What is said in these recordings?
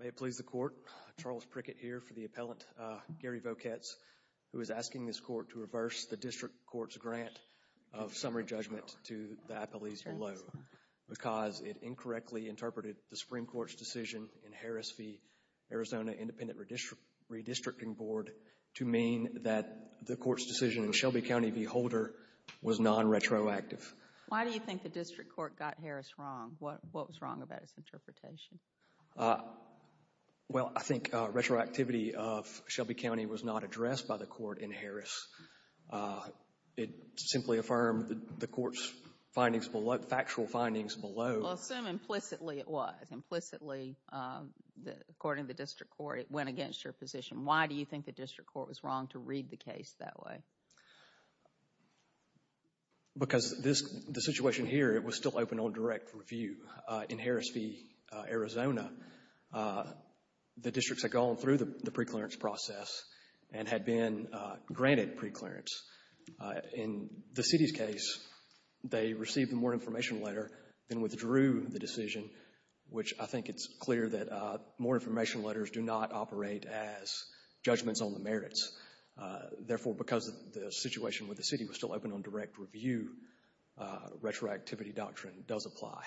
May it please the Court, Charles Prickett here for the appellant, Gary Voketz, who is because it incorrectly interpreted the Supreme Court's decision in Harris v. Arizona Independent Redistricting Board to mean that the court's decision in Shelby County v. Holder was non-retroactive. Why do you think the district court got Harris wrong? What was wrong about its interpretation? Well, I think retroactivity of Shelby County was not addressed by the court in Harris. It simply affirmed the court's factual findings below. Well, assume implicitly it was. Implicitly, according to the district court, it went against your position. Why do you think the district court was wrong to read the case that way? Because the situation here, it was still open on direct review. In Harris v. Arizona, the districts had gone through the preclearance process and had been granted preclearance. In the city's case, they received a more information letter, then withdrew the decision, which I think it's clear that more information letters do not operate as judgments on the merits. Therefore, because the situation with the city was still open on direct review, retroactivity doctrine does apply.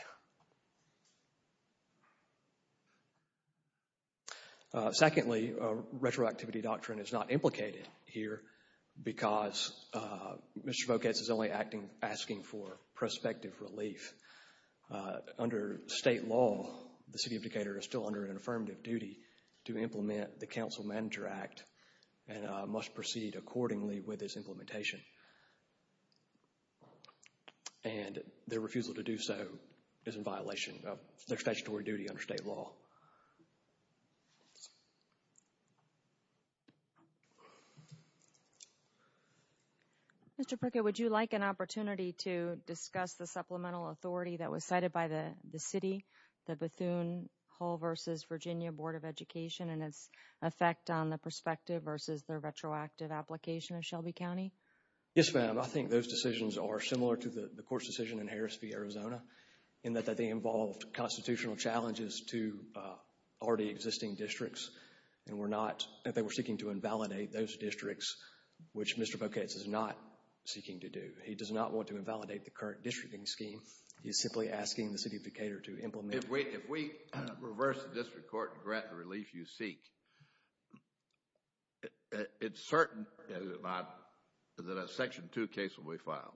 Secondly, retroactivity doctrine is not implicated here because Mr. Vocates is only asking for prospective relief. Under state law, the city of Decatur is still under an affirmative duty to implement the Council Manager Act and must proceed accordingly with its implementation. And their refusal to do so is in violation of their statutory duty under state law. Thank you. Mr. Prickett, would you like an opportunity to discuss the supplemental authority that was cited by the city, the Bethune Hall v. Virginia Board of Education and its effect on the prospective versus their retroactive application of Shelby County? Yes, ma'am. I think those decisions are similar to the court's decision in Harris v. Arizona in that they involved constitutional challenges to already existing districts. And they were seeking to invalidate those districts, which Mr. Vocates is not seeking to do. He does not want to invalidate the current districting scheme. He is simply asking the city of Decatur to implement it. If we reverse the district court and grant the relief you seek, it's certain, is it not, that a Section 2 case will be filed?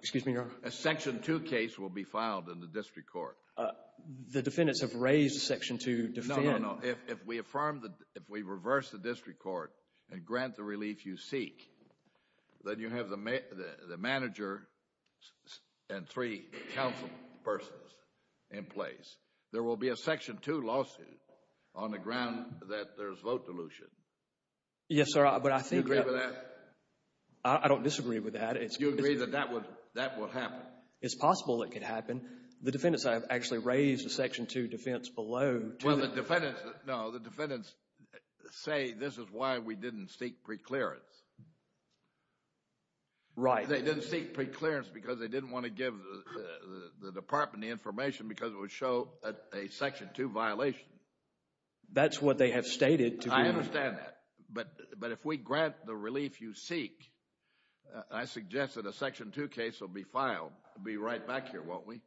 Excuse me, Your Honor? A Section 2 case will be filed in the district court. The defendants have raised Section 2 defendants. If we reverse the district court and grant the relief you seek, then you have the manager and three council persons in place. There will be a Section 2 lawsuit on the ground that there's vote dilution. Yes, sir. Do you agree with that? I don't disagree with that. You agree that that would happen? It's possible it could happen. The defendants have actually raised a Section 2 defense below. Well, the defendants, no, the defendants say this is why we didn't seek preclearance. Right. They didn't seek preclearance because they didn't want to give the department the information because it would show a Section 2 violation. That's what they have stated. I understand that. But if we grant the relief you seek, I suggest that a Section 2 case will be filed. It will be right back here, won't we?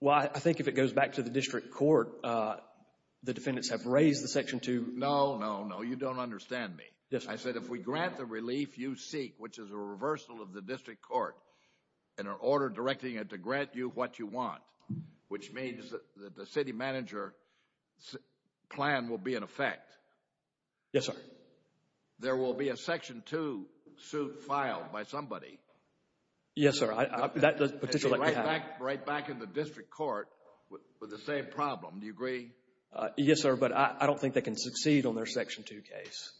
Well, I think if it goes back to the district court, the defendants have raised the Section 2. No, no, no. You don't understand me. Yes, sir. I said if we grant the relief you seek, which is a reversal of the district court and an order directing it to grant you what you want, which means that the city manager's plan will be in effect. Yes, sir. There will be a Section 2 suit filed by somebody. Yes, sir. Right back in the district court with the same problem. Do you agree? Yes, sir. But I don't think they can succeed on their Section 2 case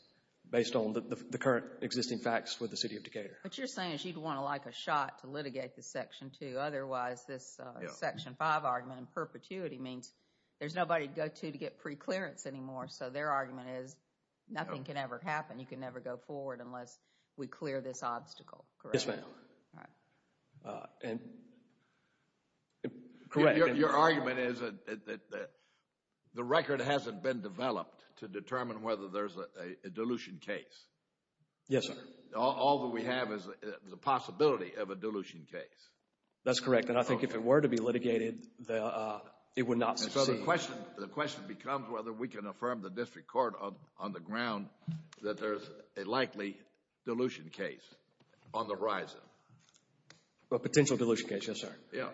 based on the current existing facts with the city of Decatur. What you're saying is you'd want to like a shot to litigate the Section 2. Otherwise, this Section 5 argument in perpetuity means there's nobody to go to to get preclearance anymore. So their argument is nothing can ever happen. You can never go forward unless we clear this obstacle. Correct? Correct. Your argument is that the record hasn't been developed to determine whether there's a dilution case. Yes, sir. All that we have is the possibility of a dilution case. That's correct. And I think if it were to be litigated, it would not succeed. The question becomes whether we can affirm the district court on the ground that there's a likely dilution case on the horizon. A potential dilution case. Yes, sir. Yeah.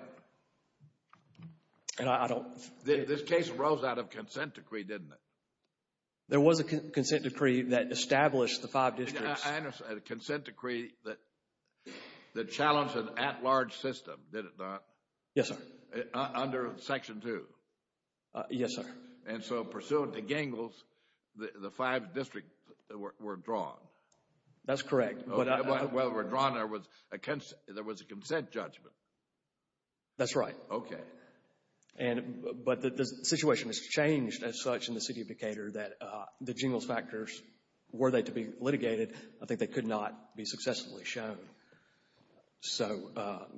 This case arose out of consent decree, didn't it? There was a consent decree that established the five districts. I understand. A consent decree that challenged an at-large system, did it not? Yes, sir. Under Section 2? Yes, sir. And so pursuant to Gingles, the five districts were drawn. That's correct. Well, were drawn, there was a consent judgment. That's right. Okay. But the situation has changed as such in the city of Decatur that the Gingles factors, were they to be litigated, I think they could not be successfully shown. So,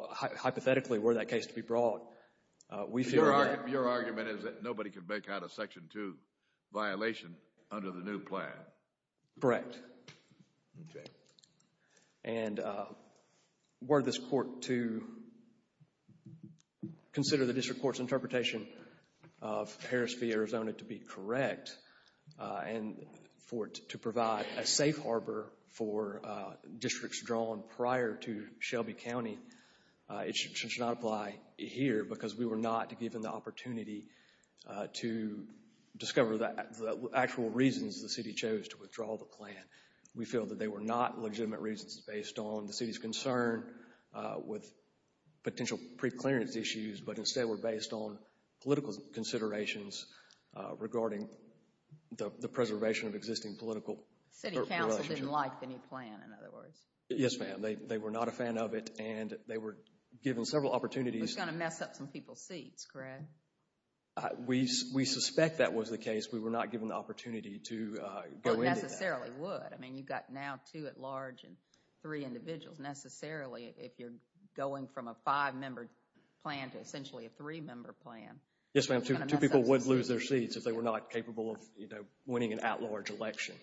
hypothetically, were that case to be brought, we feel that Your argument is that nobody could make out a Section 2 violation under the new plan. Correct. Okay. And were this court to consider the district court's interpretation of Harris v. Arizona to be correct and for it to provide a safe harbor for districts drawn prior to Shelby County, it should not apply here because we were not given the opportunity to discover the actual reasons the city chose to withdraw the plan. We feel that they were not legitimate reasons based on the city's concern with potential pre-clearance issues, but instead were based on political considerations regarding the preservation of existing political relationship. City Council didn't like the new plan, in other words. Yes, ma'am. They were not a fan of it and they were given several opportunities. It was going to mess up some people's seats, correct? We suspect that was the case. We were not given the opportunity to go into that. Necessarily would. I mean, you've got now two at large and three individuals. Necessarily, if you're going from a five-member plan to essentially a three-member plan. Yes, ma'am. Two people would lose their seats if they were not capable of winning an at-large election.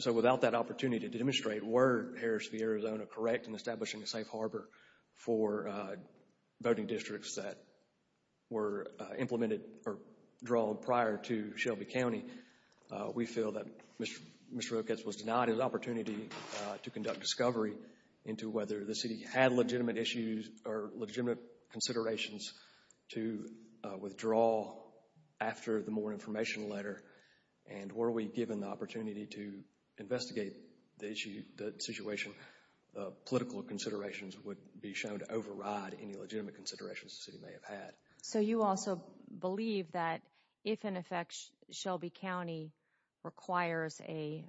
So, without that opportunity to demonstrate, were Harris v. Arizona correct in establishing a safe harbor for voting districts that were implemented or drawn prior to Shelby County? We feel that Mr. Roketz was denied an opportunity to conduct discovery into whether the city had legitimate issues or legitimate considerations to withdraw after the more information letter. And were we given the opportunity to investigate the issue, the situation, political considerations would be shown to override any legitimate considerations the city may have had. So, you also believe that if in effect Shelby County requires a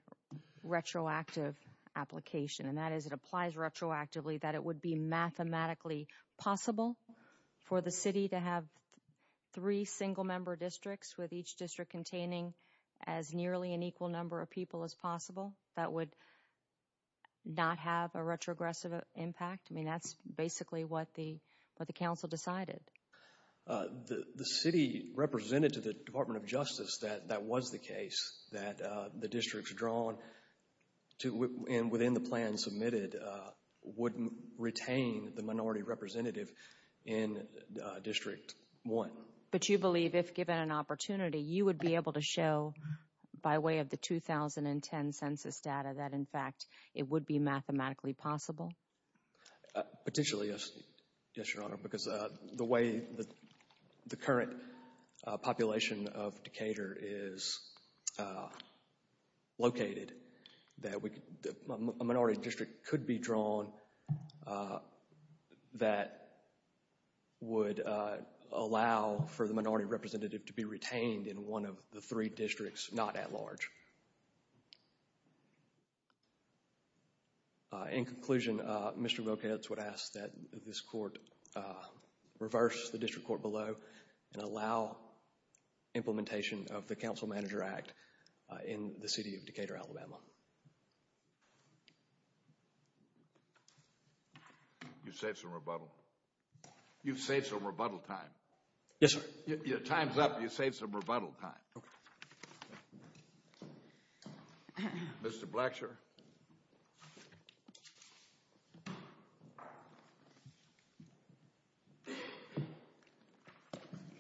retroactive application, and that is it applies retroactively, that it would be mathematically possible for the city to have three single-member districts with each district containing as nearly an equal number of people as possible? That would not have a retrogressive impact? I mean, that's basically what the council decided. The city represented to the Department of Justice that that was the case, that the districts drawn and within the plan submitted would retain the minority representative in District 1. But you believe if given an opportunity, you would be able to show by way of the 2010 census data that in fact it would be mathematically possible? Potentially, yes, Your Honor, because the way the current population of Decatur is located, that a minority district could be drawn that would allow for the minority representative to be retained in one of the three districts, not at large. In conclusion, Mr. Wilkowitz would ask that this court reverse the district court below and allow implementation of the Council Manager Act in the city of Decatur, Alabama. You've saved some rebuttal. You've saved some rebuttal time. Yes, sir. Your time's up. You've saved some rebuttal time. Okay. Mr. Blacksher.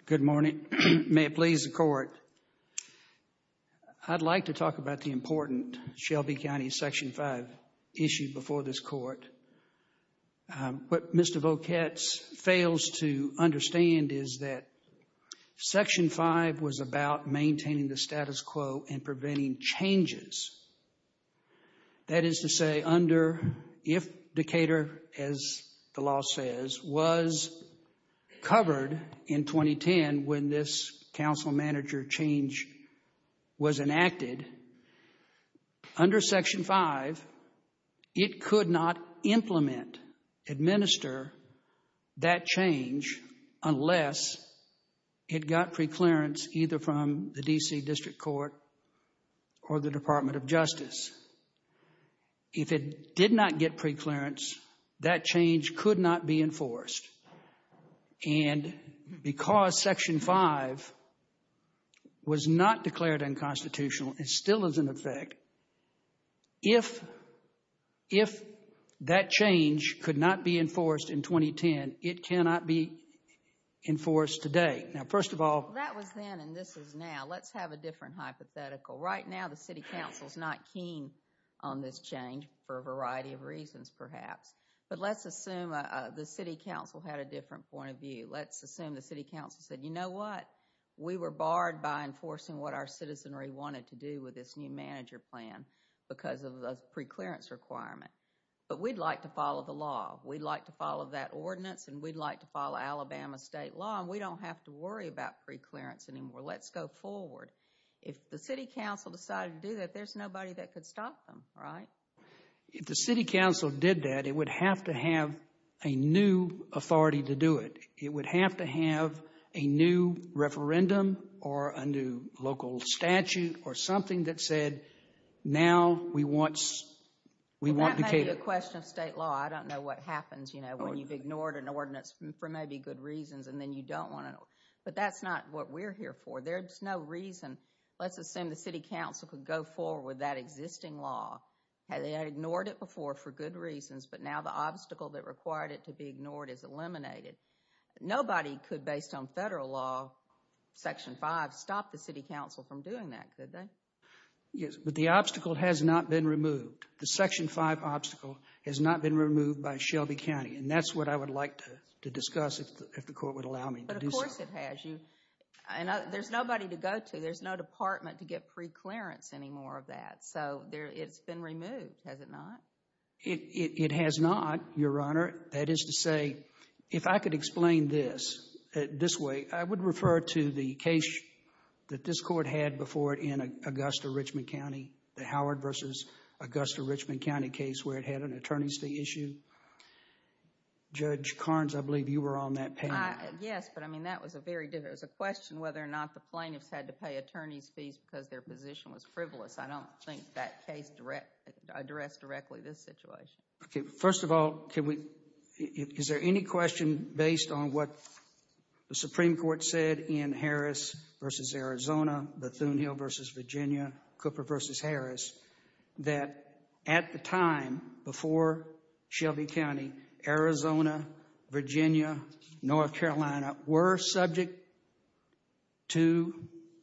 Good morning. May it please the court. I'd like to talk about the important Shelby County Section 5 issue before this court. What Mr. Volketz fails to understand is that Section 5 was about maintaining the status quo and preventing changes. That is to say, if Decatur, as the law says, was covered in 2010 when this Council Manager change was enacted, under Section 5 it could not implement, administer that change unless it got preclearance either from the D.C. District Court or the Department of Justice. If it did not get preclearance, that change could not be enforced. And because Section 5 was not declared unconstitutional, it still is in effect, if that change could not be enforced in 2010, it cannot be enforced today. Now, first of all— That was then and this is now. Let's have a different hypothetical. Right now the City Council is not keen on this change for a variety of reasons, perhaps. But let's assume the City Council had a different point of view. Let's assume the City Council said, you know what? We were barred by enforcing what our citizenry wanted to do with this new manager plan because of the preclearance requirement. But we'd like to follow the law. We'd like to follow that ordinance and we'd like to follow Alabama state law and we don't have to worry about preclearance anymore. Let's go forward. If the City Council decided to do that, there's nobody that could stop them, right? If the City Council did that, it would have to have a new authority to do it. It would have to have a new referendum or a new local statute or something that said, now we want— Well, that may be a question of state law. I don't know what happens, you know, when you've ignored an ordinance for maybe good reasons and then you don't want to. But that's not what we're here for. There's no reason. Let's assume the City Council could go forward with that existing law. They had ignored it before for good reasons, but now the obstacle that required it to be ignored is eliminated. Nobody could, based on federal law, Section 5, stop the City Council from doing that, could they? Yes, but the obstacle has not been removed. The Section 5 obstacle has not been removed by Shelby County. And that's what I would like to discuss if the court would allow me to do so. But of course it has. There's nobody to go to. There's no department to get preclearance anymore of that. So it's been removed, has it not? It has not, Your Honor. That is to say, if I could explain this, this way. I would refer to the case that this court had before it in Augusta, Richmond County, the Howard v. Augusta, Richmond County case where it had an attorney's fee issue. Judge Carnes, I believe you were on that panel. Yes, but, I mean, that was a very different. It was a question whether or not the plaintiffs had to pay attorney's fees because their position was frivolous. I don't think that case addressed directly this situation. Okay. First of all, is there any question based on what the Supreme Court said in Harris v. Arizona, that at the time before Shelby County, Arizona, Virginia, North Carolina, were subject to,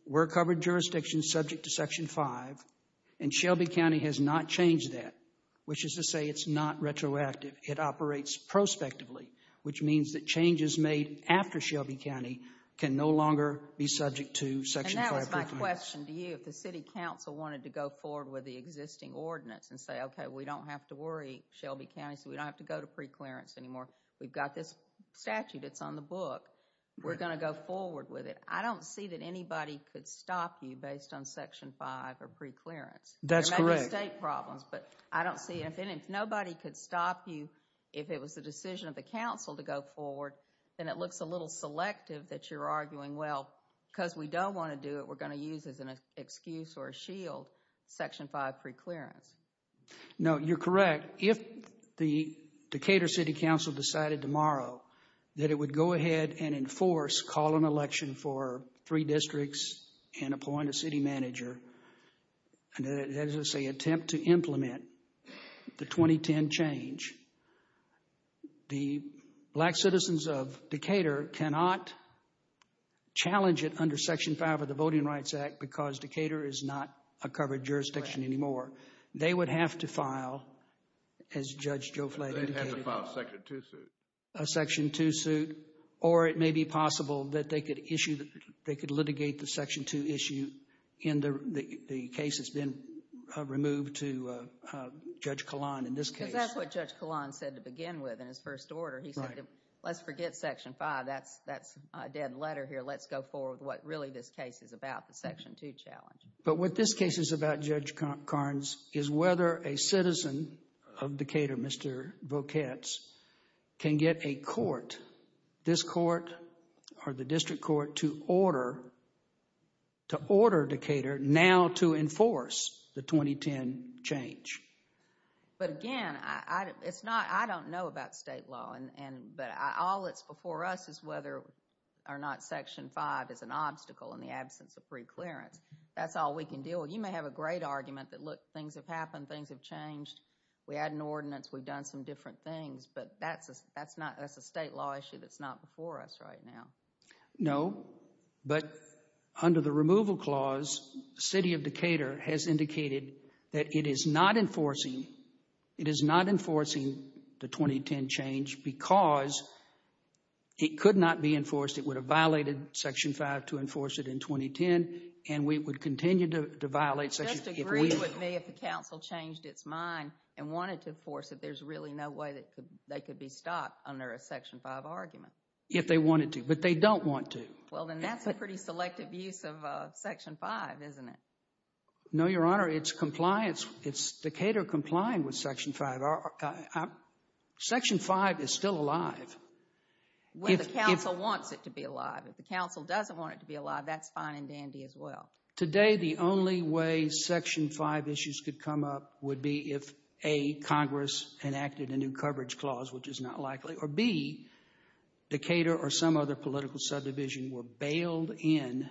were covered jurisdictions subject to Section 5, and Shelby County has not changed that, which is to say it's not retroactive. It operates prospectively, which means that changes made after Shelby County can no longer be subject to Section 5. That was my question to you. If the city council wanted to go forward with the existing ordinance and say, okay, we don't have to worry, Shelby County, so we don't have to go to preclearance anymore. We've got this statute that's on the book. We're going to go forward with it. I don't see that anybody could stop you based on Section 5 or preclearance. That's correct. There may be state problems, but I don't see it. If nobody could stop you, if it was the decision of the council to go forward, then it looks a little selective that you're arguing, well, because we don't want to do it, we're going to use it as an excuse or a shield, Section 5 preclearance. No, you're correct. If the Decatur City Council decided tomorrow that it would go ahead and enforce, call an election for three districts and appoint a city manager, as I say, attempt to implement the 2010 change, the black citizens of Decatur cannot challenge it under Section 5 of the Voting Rights Act because Decatur is not a covered jurisdiction anymore. They would have to file, as Judge Joe Flatt indicated. They'd have to file a Section 2 suit. A Section 2 suit. Or it may be possible that they could issue, they could litigate the Section 2 issue in the case that's been removed to Judge Kahlon in this case. Because that's what Judge Kahlon said to begin with in his first order. He said, let's forget Section 5. That's a dead letter here. Let's go forward with what really this case is about, the Section 2 challenge. But what this case is about, Judge Carnes, is whether a citizen of Decatur, Mr. Voketz, can get a court, this court or the district court, to order Decatur now to enforce the 2010 change. But again, I don't know about state law, but all that's before us is whether or not Section 5 is an obstacle in the absence of free clearance. That's all we can deal with. You may have a great argument that, look, things have happened. Things have changed. We had an ordinance. We've done some different things. But that's a state law issue that's not before us right now. No, but under the removal clause, the city of Decatur has indicated that it is not enforcing the 2010 change because it could not be enforced. It would have violated Section 5 to enforce it in 2010, and we would continue to violate Section 5. Just agree with me if the council changed its mind and wanted to enforce it, there's really no way they could be stopped under a Section 5 argument. If they wanted to, but they don't want to. Well, then that's a pretty selective use of Section 5, isn't it? No, Your Honor, it's compliance. It's Decatur complying with Section 5. Section 5 is still alive. Well, the council wants it to be alive. If the council doesn't want it to be alive, that's fine and dandy as well. Today, the only way Section 5 issues could come up would be if, A, Congress enacted a new coverage clause, which is not likely, or, B, Decatur or some other political subdivision were bailed in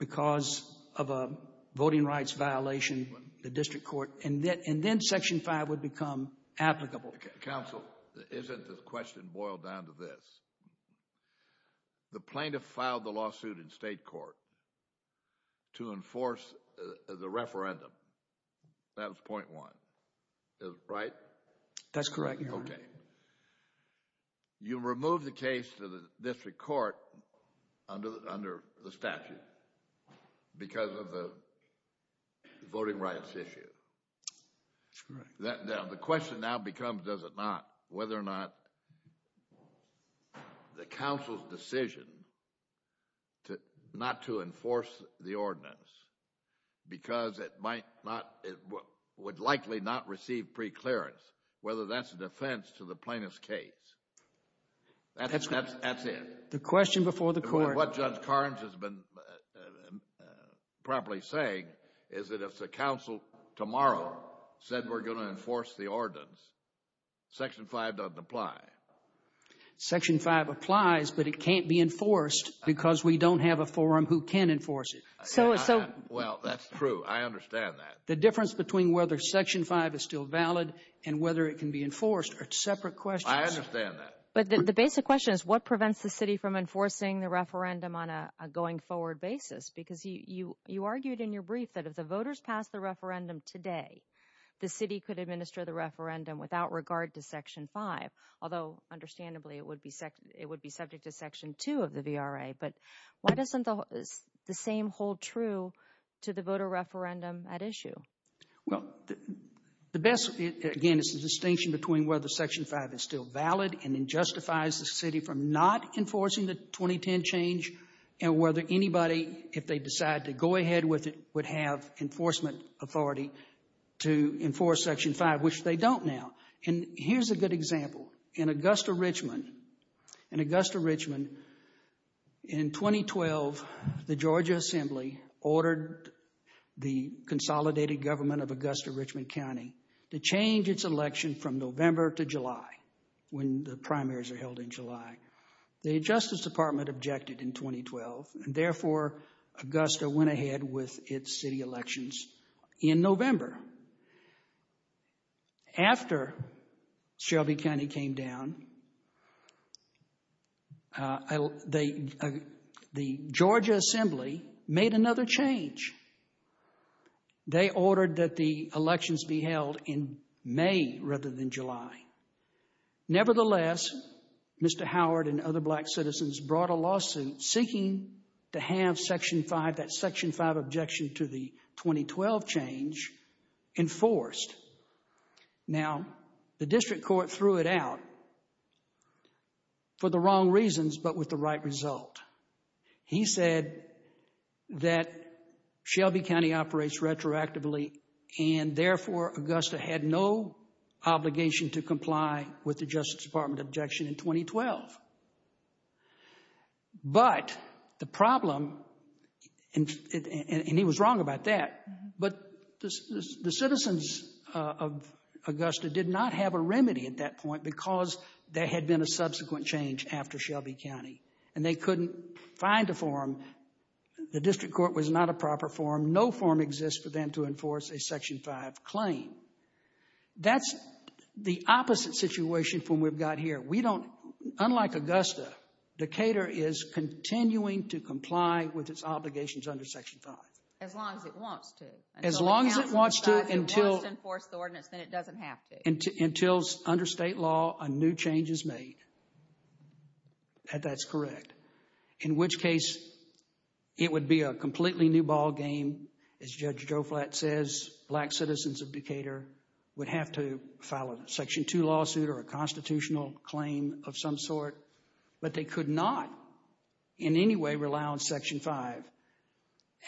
because of a voting rights violation, the district court, and then Section 5 would become applicable. Counsel, isn't the question boiled down to this? The plaintiff filed the lawsuit in state court to enforce the referendum. That was point one, right? That's correct, Your Honor. Okay. You removed the case to the district court under the statute because of the voting rights issue. That's correct. The question now becomes, does it not, whether or not the council's decision not to enforce the ordinance because it would likely not receive preclearance, whether that's an offense to the plaintiff's case. That's it. The question before the court. What Judge Carnes has been properly saying is that if the council tomorrow said we're going to enforce the ordinance, Section 5 doesn't apply. Section 5 applies, but it can't be enforced because we don't have a forum who can enforce it. Well, that's true. I understand that. The difference between whether Section 5 is still valid and whether it can be enforced are separate questions. I understand that. But the basic question is, what prevents the city from enforcing the referendum on a going forward basis? Because you argued in your brief that if the voters pass the referendum today, the city could administer the referendum without regard to Section 5, although understandably it would be subject to Section 2 of the VRA. But why doesn't the same hold true to the voter referendum at issue? Well, the best, again, is the distinction between whether Section 5 is still valid and it justifies the city from not enforcing the 2010 change and whether anybody, if they decide to go ahead with it, would have enforcement authority to enforce Section 5, which they don't now. And here's a good example. In Augusta, Richmond, in 2012, the Georgia Assembly ordered the consolidated government of Augusta, Richmond County to change its election from November to July when the primaries are held in July. The Justice Department objected in 2012, and therefore Augusta went ahead with its city elections in November. After Shelby County came down, the Georgia Assembly made another change. They ordered that the elections be held in May rather than July. Nevertheless, Mr. Howard and other black citizens brought a lawsuit seeking to have Section 5, that Section 5 objection to the 2012 change, enforced. Now, the district court threw it out for the wrong reasons but with the right result. He said that Shelby County operates retroactively and therefore Augusta had no obligation to comply with the Justice Department objection in 2012. But the problem, and he was wrong about that, but the citizens of Augusta did not have a remedy at that point because there had been a subsequent change after Shelby County, and they couldn't find a form. The district court was not a proper form. No form exists for them to enforce a Section 5 claim. That's the opposite situation from what we've got here. We don't, unlike Augusta, Decatur is continuing to comply with its obligations under Section 5. As long as it wants to. As long as it wants to until— If it wants to enforce the ordinance, then it doesn't have to. Until, under state law, a new change is made. That's correct. In which case, it would be a completely new ballgame. As Judge Joe Flatt says, black citizens of Decatur would have to file a Section 2 lawsuit or a constitutional claim of some sort, but they could not in any way rely on Section 5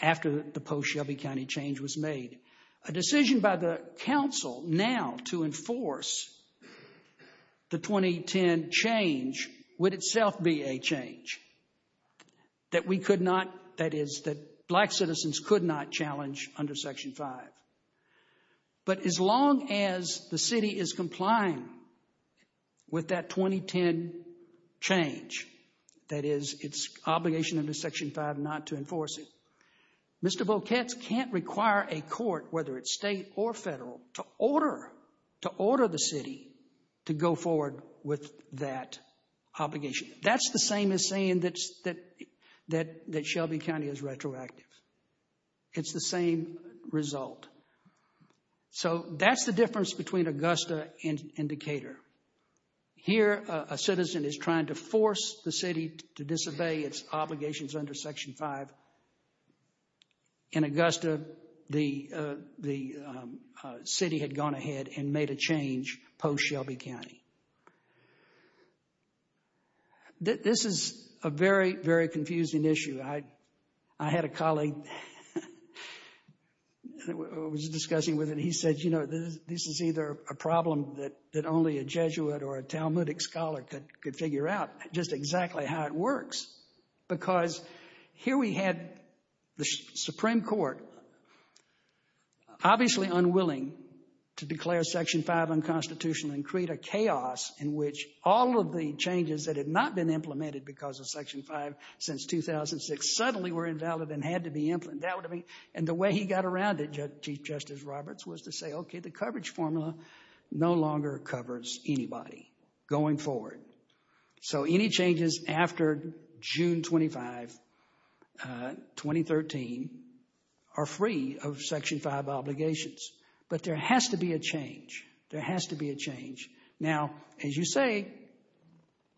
after the post-Shelby County change was made. A decision by the council now to enforce the 2010 change would itself be a change that we could not— that is, that black citizens could not challenge under Section 5. But as long as the city is complying with that 2010 change, that is, its obligation under Section 5 not to enforce it, Mr. Volketz can't require a court, whether it's state or federal, to order the city to go forward with that obligation. That's the same as saying that Shelby County is retroactive. It's the same result. So that's the difference between Augusta and Decatur. Here, a citizen is trying to force the city to disobey its obligations under Section 5. In Augusta, the city had gone ahead and made a change post-Shelby County. This is a very, very confusing issue. I had a colleague—I was discussing with him. He said, you know, this is either a problem that only a Jesuit or a Talmudic scholar could figure out, just exactly how it works. Because here we had the Supreme Court obviously unwilling to declare Section 5 unconstitutional and create a chaos in which all of the changes that had not been implemented because of Section 5 since 2006 suddenly were invalid and had to be implemented. And the way he got around it, Chief Justice Roberts, was to say, okay, the coverage formula no longer covers anybody going forward. So any changes after June 25, 2013, are free of Section 5 obligations. But there has to be a change. There has to be a change. Now, as you say,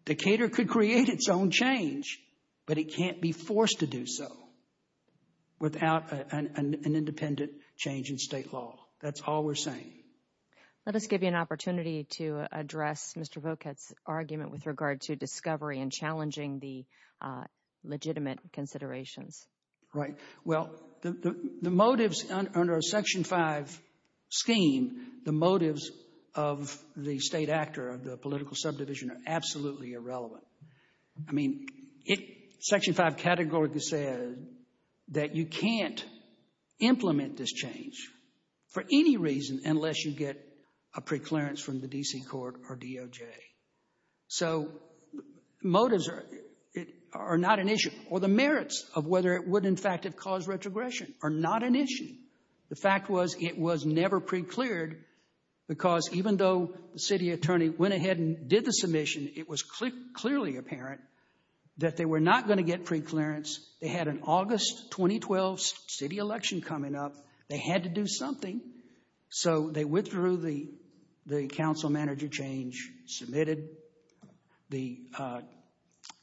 Decatur could create its own change, but it can't be forced to do so without an independent change in state law. That's all we're saying. Let us give you an opportunity to address Mr. Voquette's argument with regard to discovery and challenging the legitimate considerations. Right. Well, the motives under a Section 5 scheme, the motives of the state actor, of the political subdivision, are absolutely irrelevant. I mean, Section 5 categorically says that you can't implement this change for any reason unless you get a preclearance from the D.C. court or DOJ. So motives are not an issue. Or the merits of whether it would, in fact, have caused retrogression are not an issue. The fact was it was never precleared because even though the city attorney went ahead and did the submission, it was clearly apparent that they were not going to get preclearance. They had an August 2012 city election coming up. They had to do something. So they withdrew the council manager change, submitted the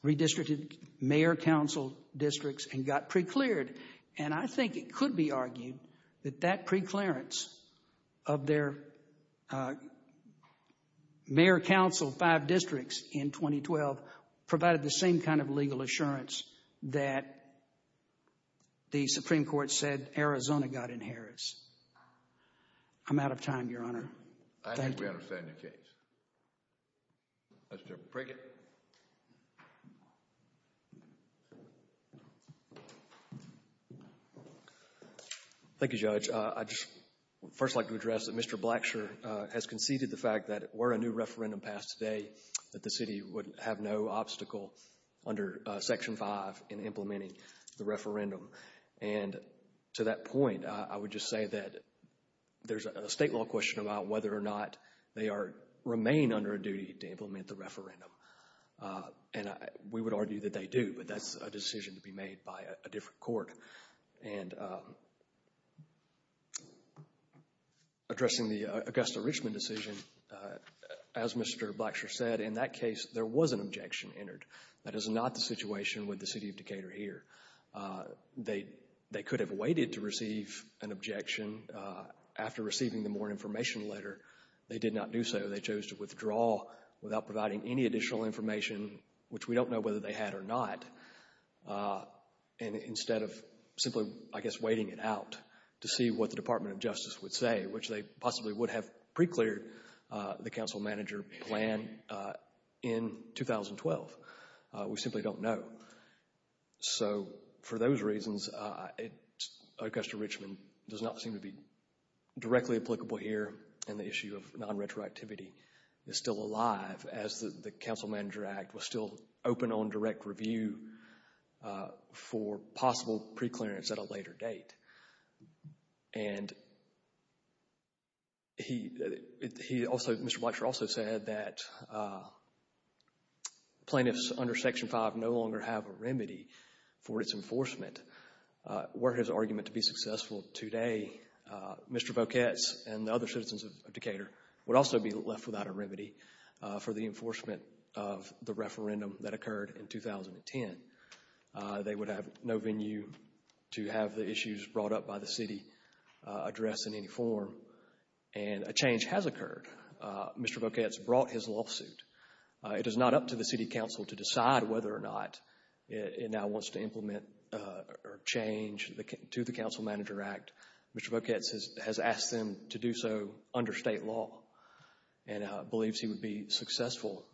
redistricted mayor-council districts, and got precleared. And I think it could be argued that that preclearance of their mayor-council five districts in 2012 provided the same kind of legal assurance that the Supreme Court said Arizona got in Harris. I'm out of time, Your Honor. Thank you. I think we understand your case. Mr. Prickett. Thank you, Judge. I'd just first like to address that Mr. Blacksher has conceded the fact that were a new referendum passed today that the city would have no obstacle under Section 5 in implementing the referendum. And to that point, I would just say that there's a state law question about whether or not they remain under a duty to implement the referendum. And we would argue that they do, but that's a decision to be made by a different court. And addressing the Augusta Richmond decision, as Mr. Blacksher said, in that case, there was an objection entered. That is not the situation with the city of Decatur here. They could have waited to receive an objection. After receiving the morning information letter, they did not do so. They chose to withdraw without providing any additional information, which we don't know whether they had or not, instead of simply, I guess, waiting it out to see what the Department of Justice would say, which they possibly would have pre-cleared the council manager plan in 2012. We simply don't know. So for those reasons, Augusta Richmond does not seem to be directly applicable here in the issue of non-retroactivity. It's still alive, as the Council Manager Act was still open on direct review for possible pre-clearance at a later date. And he also, Mr. Blacksher also said that plaintiffs under Section 5 no longer have a remedy for its enforcement. Were his argument to be successful today, Mr. Boquets and the other citizens of Decatur would also be left without a remedy for the enforcement of the referendum that occurred in 2010. They would have no venue to have the issues brought up by the city addressed in any form. And a change has occurred. Mr. Boquets brought his lawsuit. It is not up to the city council to decide whether or not it now wants to implement or change to the Council Manager Act. Mr. Boquets has asked them to do so under state law and believes he would be successful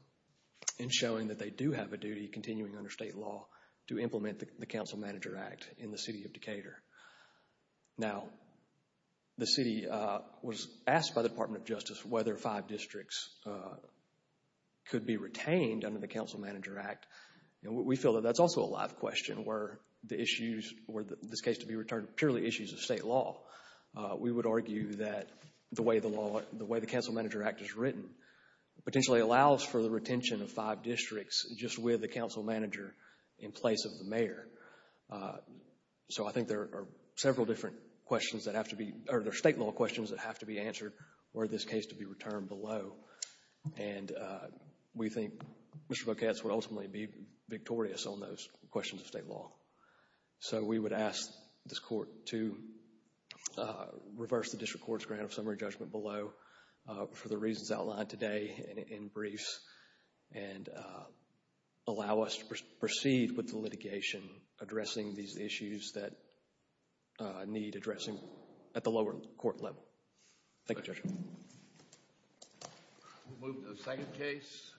in showing that they do have a duty, continuing under state law, to implement the Council Manager Act in the city of Decatur. Now, the city was asked by the Department of Justice whether five districts could be retained under the Council Manager Act. We feel that that's also a live question were the issues, were this case to be returned purely issues of state law. the way the Council Manager Act is written potentially allows for the retention of five districts just with the council manager in place of the mayor. So I think there are several different questions that have to be, or there are state law questions that have to be answered were this case to be returned below. And we think Mr. Boquets would ultimately be victorious on those questions of state law. So we would ask this court to reverse the district court's grant of summary judgment below for the reasons outlined today in briefs and allow us to proceed with the litigation addressing these issues that need addressing at the lower court level. Thank you, Judge. We'll move to the second case.